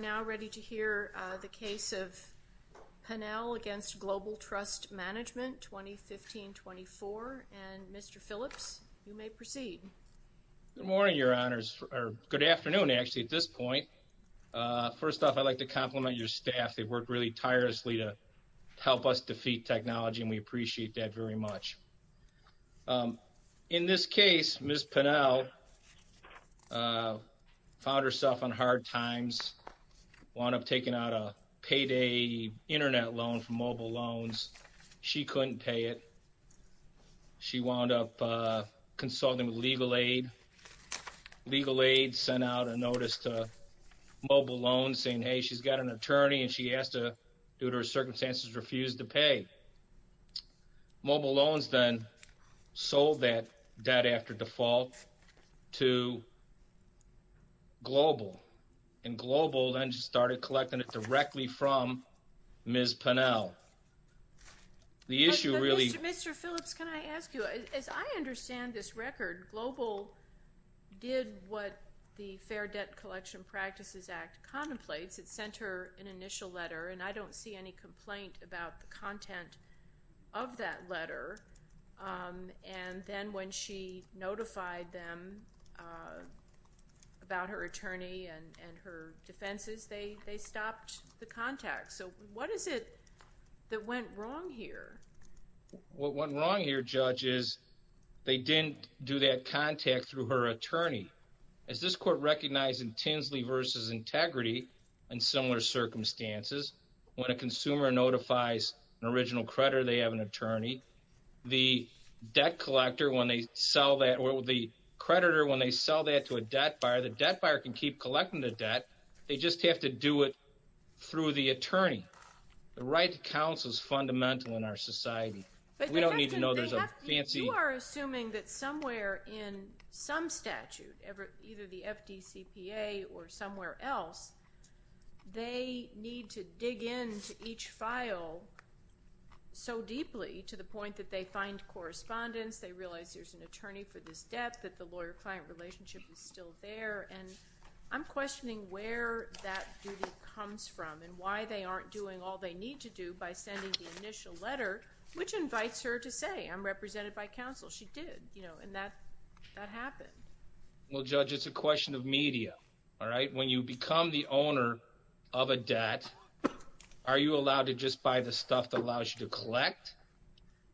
We are now ready to hear the case of Pennell v. Global Trust Management, 2015-24, and Mr. Phillips, you may proceed. Good morning, Your Honors, or good afternoon, actually, at this point. First off, I'd like to compliment your staff. They worked really tirelessly to help us defeat technology, and we appreciate that very much. In this case, Ms. Pennell found herself on hard times, wound up taking out a payday internet loan from Mobile Loans. She couldn't pay it. She wound up consulting with Legal Aid. Legal Aid sent out a notice to Mobile Loans saying, hey, she's got an attorney, and she has to, due to her circumstances, refuse to pay. Mobile Loans then sold that debt after default to Global, and Global then started collecting it directly from Ms. Pennell. The issue really... But, Mr. Phillips, can I ask you, as I understand this record, Global did what the Fair Debt Collection Practices Act contemplates. It sent her an initial letter, and I don't see any complaint about the content of that letter. And then when she notified them about her attorney and her defenses, they stopped the contact. So what is it that went wrong here? What went wrong here, Judge, is they didn't do that contact through her attorney. As this court recognized in Tinsley v. Integrity, in similar circumstances, when a consumer notifies an original creditor they have an attorney, the debt collector, when they sell that, or the creditor, when they sell that to a debt buyer, the debt buyer can keep collecting the debt. They just have to do it through the attorney. The right to counsel is fundamental in our society. We don't need to know there's a fancy... either the FDCPA or somewhere else. They need to dig into each file so deeply to the point that they find correspondence, they realize there's an attorney for this debt, that the lawyer-client relationship is still there, and I'm questioning where that duty comes from and why they aren't doing all they need to do by sending the initial letter, which invites her to say, I'm represented by counsel. She did, and that happened. Well, Judge, it's a question of media, all right? When you become the owner of a debt, are you allowed to just buy the stuff that allows you to collect,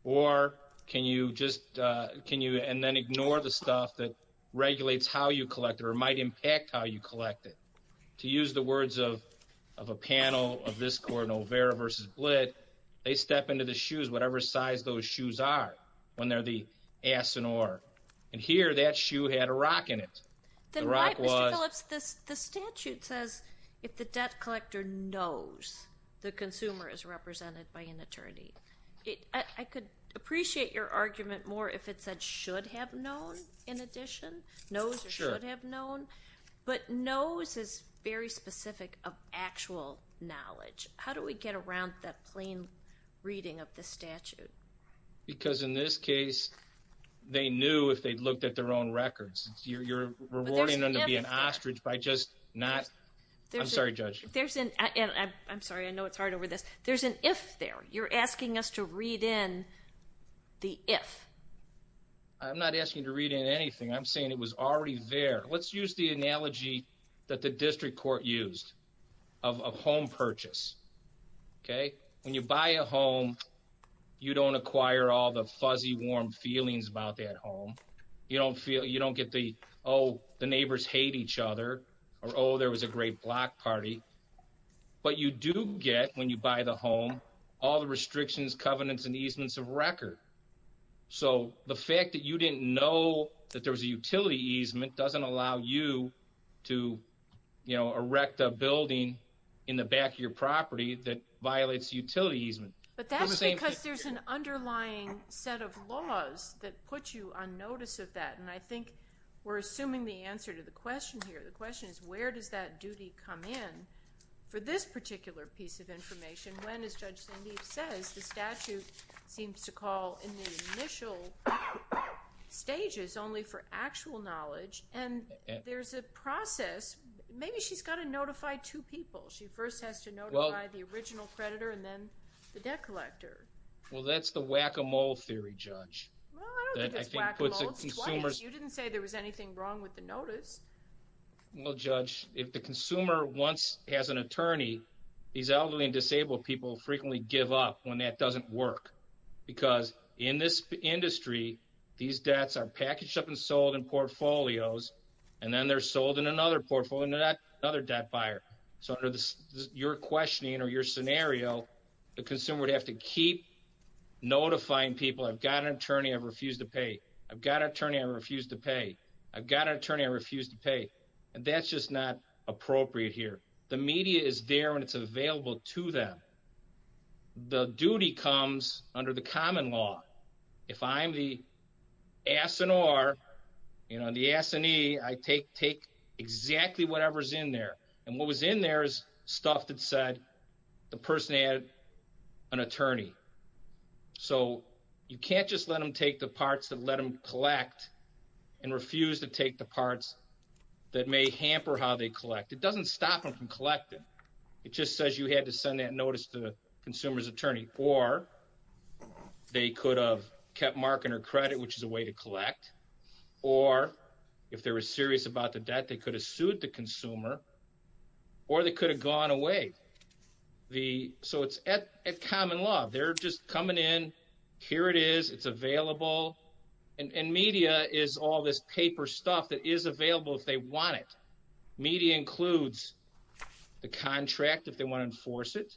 or can you just ignore the stuff that regulates how you collect or might impact how you collect it? To use the words of a panel of this court in Olvera v. Blitt, they step into the shoes, whatever size those shoes are, when they're the ass and oar. And here, that shoe had a rock in it. Then why, Mr. Phillips, the statute says if the debt collector knows the consumer is represented by an attorney. I could appreciate your argument more if it said should have known in addition, knows or should have known, but knows is very specific of actual knowledge. How do we get around that plain reading of the statute? Because in this case, they knew if they'd looked at their own records. You're rewarding them to be an ostrich by just not. I'm sorry, Judge. I'm sorry, I know it's hard over this. There's an if there. You're asking us to read in the if. I'm not asking you to read in anything. I'm saying it was already there. Let's use the analogy that the district court used of a home purchase, okay? When you buy a home, you don't acquire all the fuzzy, warm feelings about that home. You don't get the, oh, the neighbors hate each other or, oh, there was a great block party. But you do get, when you buy the home, all the restrictions, covenants, and easements of record. So the fact that you didn't know that there was a utility easement doesn't allow you to erect a building in the back of your property that violates utility easement. But that's because there's an underlying set of laws that put you on notice of that. And I think we're assuming the answer to the question here. The question is where does that duty come in for this particular piece of information when, as Judge Sandeep says, the statute seems to call in the initial stages only for actual knowledge. And there's a process. Maybe she's got to notify two people. She first has to notify the original creditor and then the debt collector. Well, that's the whack-a-mole theory, Judge. Well, I don't think it's whack-a-mole. It's twice. You didn't say there was anything wrong with the notice. Well, Judge, if the consumer once has an attorney, these elderly and disabled people frequently give up when that doesn't work. Because in this industry, these debts are packaged up and sold in portfolios, and then they're sold in another portfolio and they're not another debt buyer. So under your questioning or your scenario, the consumer would have to keep notifying people, I've got an attorney, I refuse to pay. I've got an attorney, I refuse to pay. I've got an attorney, I refuse to pay. And that's just not appropriate here. The media is there when it's available to them. The duty comes under the common law. If I'm the S&R, you know, the S&E, I take exactly whatever's in there. And what was in there is stuff that said the person had an attorney. So you can't just let them take the parts and let them collect and refuse to take the parts that may hamper how they collect. It doesn't stop them from collecting. It just says you had to send that notice to the consumer's attorney. Or they could have kept mark in their credit, which is a way to collect. Or if they were serious about the debt, they could have sued the consumer. Or they could have gone away. So it's at common law. They're just coming in, here it is, it's available. And media is all this paper stuff that is available if they want it. Media includes the contract if they want to enforce it.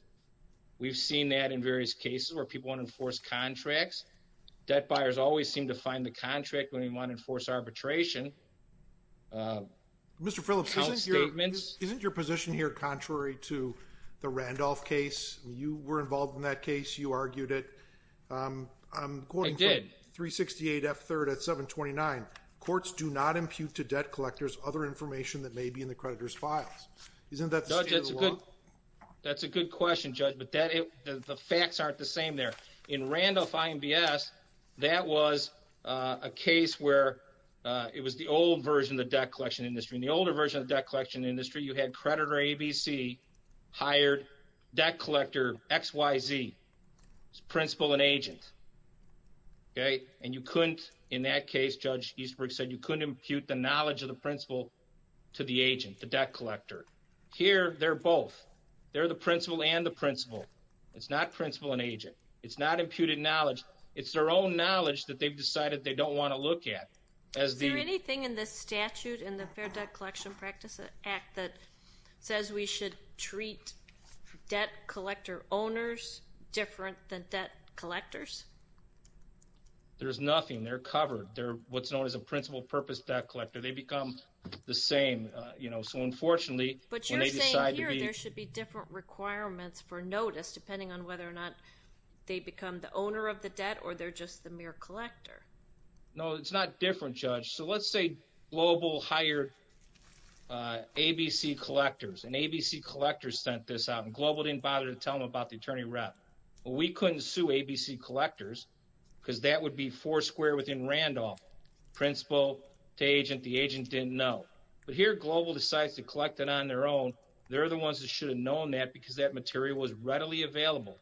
We've seen that in various cases where people want to enforce contracts. Debt buyers always seem to find the contract when they want to enforce arbitration. Mr. Phillips, isn't your position here contrary to the Randolph case? You were involved in that case. You argued it. I did. According to 368F3rd at 729, courts do not impute to debt collectors other information that may be in the creditor's files. Isn't that the standard of the law? That's a good question, Judge. But the facts aren't the same there. In Randolph IMBS, that was a case where it was the old version of the debt collection industry. In the older version of the debt collection industry, you had creditor ABC hired debt collector XYZ as principal and agent. And you couldn't, in that case, Judge Eastbrook said, you couldn't impute the knowledge of the principal to the agent, the debt collector. Here they're both. They're the principal and the principal. It's not principal and agent. It's not imputed knowledge. It's their own knowledge that they've decided they don't want to look at. Is there anything in this statute, in the Fair Debt Collection Practice Act, that says we should treat debt collector owners different than debt collectors? There's nothing. They're covered. They're what's known as a principal purpose debt collector. They become the same. So, unfortunately, when they decide to be But you're saying here there should be different requirements for notice, depending on whether or not they become the owner of the debt or they're just the mere collector. No, it's not different, Judge. So let's say Global hired ABC collectors, and ABC collectors sent this out, and Global didn't bother to tell them about the attorney rep. Well, we couldn't sue ABC collectors because that would be four square within Randolph, principal to agent, the agent didn't know. But here Global decides to collect it on their own. They're the ones that should have known that because that material was readily available.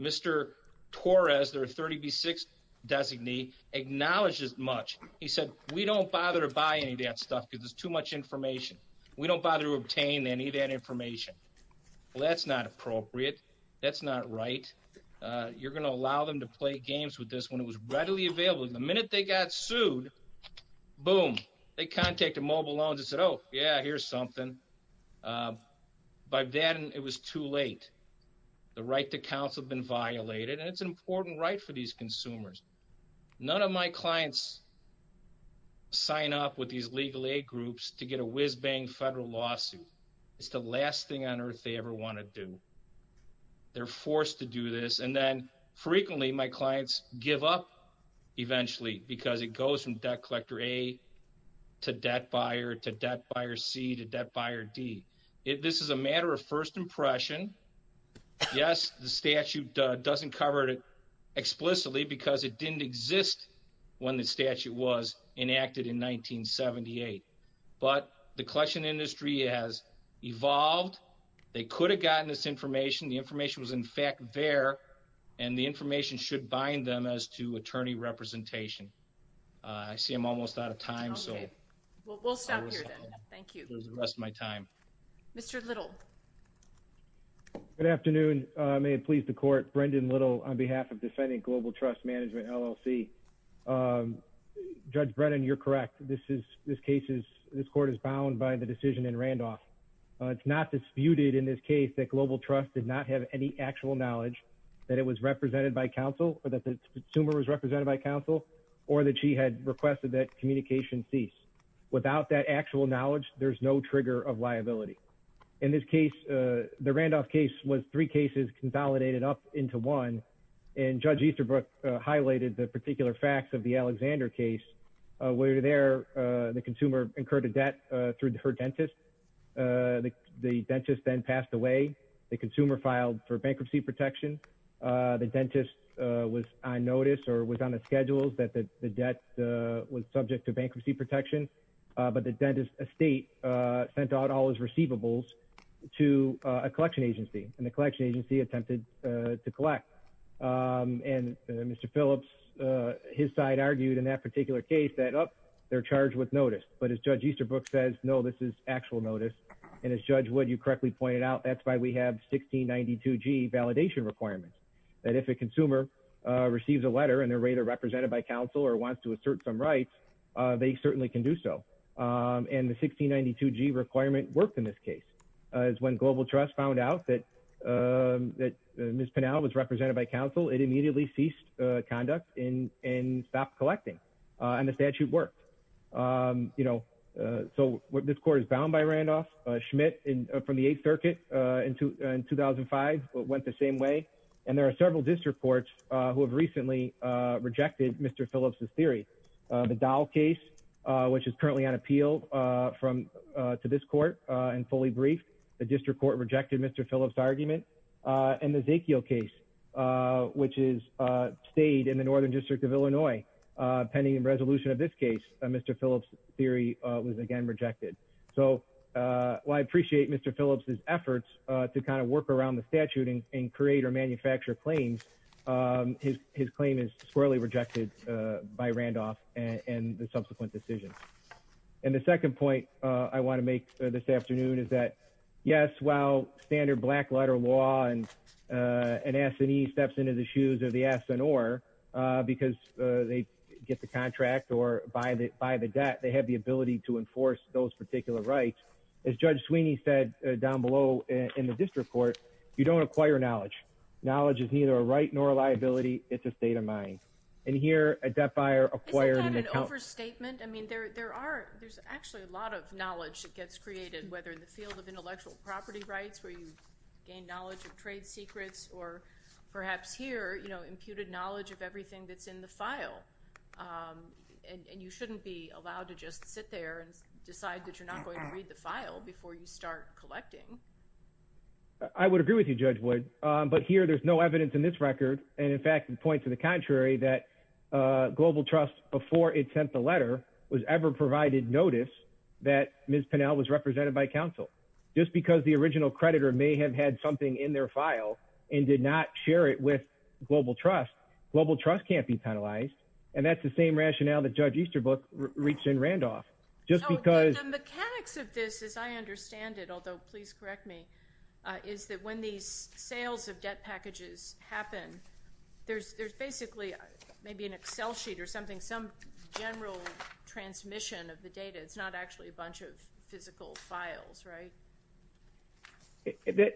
Mr. Torres, their 30B6 designee, acknowledged this much. He said, we don't bother to buy any of that stuff because it's too much information. We don't bother to obtain any of that information. Well, that's not appropriate. That's not right. You're going to allow them to play games with this when it was readily available. The minute they got sued, boom, they contacted Mobile Loans and said, oh, yeah, here's something. By then it was too late. The right to counsel had been violated, and it's an important right for these consumers. None of my clients sign up with these legal aid groups to get a whiz-bang federal lawsuit. It's the last thing on earth they ever want to do. They're forced to do this, and then frequently my clients give up eventually because it goes from Debt Collector A to Debt Buyer to Debt Buyer C to Debt Buyer D. This is a matter of first impression. Yes, the statute doesn't cover it explicitly because it didn't exist when the statute was enacted in 1978. But the collection industry has evolved. They could have gotten this information. The information was in fact there, and the information should bind them as to attorney representation. I see I'm almost out of time. Okay. Well, we'll stop here then. Thank you. There's the rest of my time. Mr. Little. Good afternoon. May it please the Court. Brendan Little on behalf of Defending Global Trust Management, LLC. Judge Brennan, you're correct. This court is bound by the decision in Randolph. It's not disputed in this case that Global Trust did not have any actual knowledge that it was represented by counsel or that the consumer was represented by counsel or that she had requested that communication cease. Without that actual knowledge, there's no trigger of liability. In this case, the Randolph case was three cases consolidated up into one, and Judge Easterbrook highlighted the particular facts of the Alexander case where there the consumer incurred a debt through her dentist. The dentist then passed away. The consumer filed for bankruptcy protection. The dentist was on notice or was on the schedules that the debt was subject to bankruptcy protection, but the dentist estate sent out all his receivables to a collection agency, and the collection agency attempted to collect. And Mr. Phillips, his side argued in that particular case that, oh, they're charged with notice. But as Judge Easterbrook says, no, this is actual notice. And as Judge Wood, you correctly pointed out, that's why we have 1692G validation requirements, that if a consumer receives a letter and they're either represented by counsel or wants to assert some rights, they certainly can do so. And the 1692G requirement worked in this case. As when Global Trust found out that Ms. Pinnell was represented by counsel, it immediately ceased conduct and stopped collecting. And the statute worked. So this court is bound by Randolph. Schmidt, from the Eighth Circuit in 2005, went the same way. And there are several district courts who have recently rejected Mr. Phillips' theory. The Dow case, which is currently on appeal to this court and fully briefed, the district court rejected Mr. Phillips' argument. And the Zekio case, which stayed in the Northern District of Illinois, pending a resolution of this case, Mr. Phillips' theory was again rejected. So while I appreciate Mr. Phillips' efforts to kind of work around the statute and create or manufacture claims, his claim is squarely rejected by Randolph and the subsequent decisions. And the second point I want to make this afternoon is that, yes, while standard black-letter law and S&E steps into the shoes of the S&R, because they get the contract or buy the debt, they have the ability to enforce those particular rights. As Judge Sweeney said down below in the district court, you don't acquire knowledge. Knowledge is neither a right nor a liability. It's a state of mind. And here, a debt buyer acquiring an account- Isn't that an overstatement? I mean, there's actually a lot of knowledge that gets created, whether in the field of intellectual property rights where you gain knowledge of trade secrets or perhaps here, you know, imputed knowledge of everything that's in the file. And you shouldn't be allowed to just sit there and decide that you're not going to read the file before you start collecting. I would agree with you, Judge Wood. But here, there's no evidence in this record, and in fact, it points to the contrary, that Global Trust, before it sent the letter, was ever provided notice that Ms. Pennell was represented by counsel. Just because the original creditor may have had something in their file and did not share it with Global Trust, Global Trust can't be penalized. And that's the same rationale that Judge Easterbrook reached in Randolph. The mechanics of this, as I understand it, although please correct me, is that when these sales of debt packages happen, there's basically maybe an Excel sheet or something, some general transmission of the data. It's not actually a bunch of physical files, right?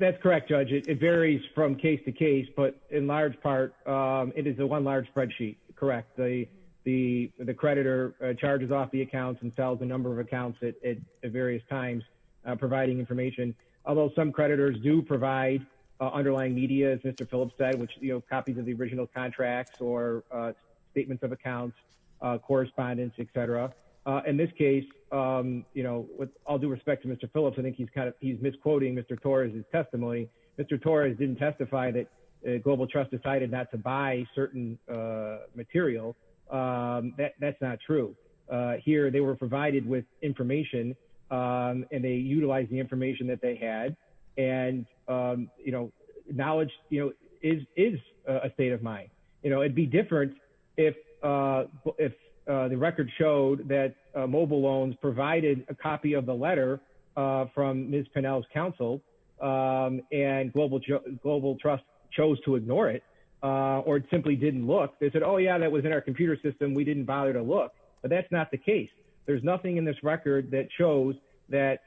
That's correct, Judge. It varies from case to case, but in large part, it is the one large spreadsheet, correct? The creditor charges off the accounts and sells a number of accounts at various times providing information, although some creditors do provide underlying media, as Mr. Phillips said, which are copies of the original contracts or statements of accounts, correspondence, et cetera. In this case, with all due respect to Mr. Phillips, I think he's misquoting Mr. Torres' testimony. Mr. Torres didn't testify that Global Trust decided not to buy certain material. That's not true. Here, they were provided with information, and they utilized the information that they had, and knowledge is a state of mind. It would be different if the record showed that Mobile Loans provided a copy of the letter from Ms. Pennell's counsel, and Global Trust chose to ignore it or simply didn't look. They said, oh, yeah, that was in our computer system. We didn't bother to look, but that's not the case. There's nothing in this record that shows that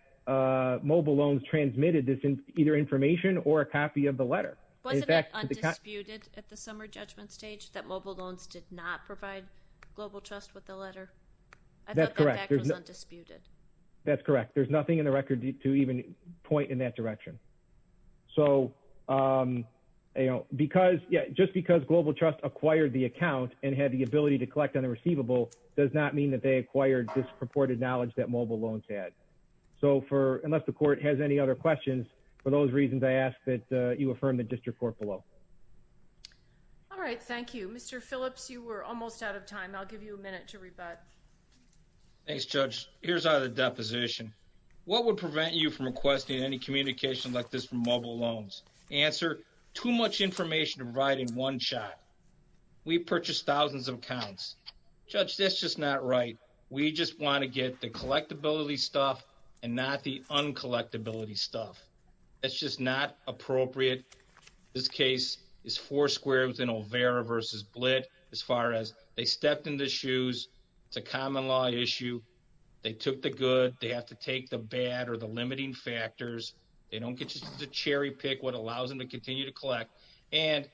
Mobile Loans transmitted either information or a copy of the letter. Wasn't it undisputed at the summer judgment stage that Mobile Loans did not provide Global Trust with the letter? I thought that fact was undisputed. That's correct. There's nothing in the record to even point in that direction. So, you know, just because Global Trust acquired the account and had the ability to collect on the receivable does not mean that they acquired this purported knowledge that Mobile Loans had. So unless the court has any other questions, for those reasons, I ask that you affirm the district court below. All right, thank you. Mr. Phillips, you were almost out of time. I'll give you a minute to rebut. Thanks, Judge. Here's our deposition. What would prevent you from requesting any communication like this from Mobile Loans? Answer, too much information to provide in one shot. We purchased thousands of accounts. Judge, that's just not right. We just want to get the collectability stuff and not the uncollectability stuff. That's just not appropriate. This case is four squared within Olvera versus Blitt as far as they stepped in the shoes. It's a common law issue. They took the good. They have to take the bad or the limiting factors. They don't get to cherry pick what allows them to continue to collect. And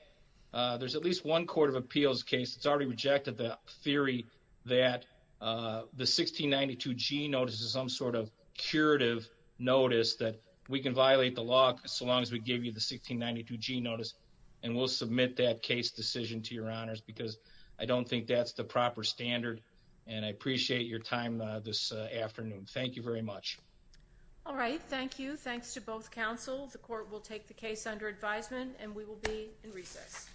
there's at least one court of appeals case that's already rejected the theory that the 1692G notice is some sort of curative notice that we can violate the law so long as we give you the 1692G notice, and we'll submit that case decision to your honors because I don't think that's the proper standard. And I appreciate your time this afternoon. Thank you very much. All right. Thank you. Thanks to both counsel. The court will take the case under advisement and we will be in recess.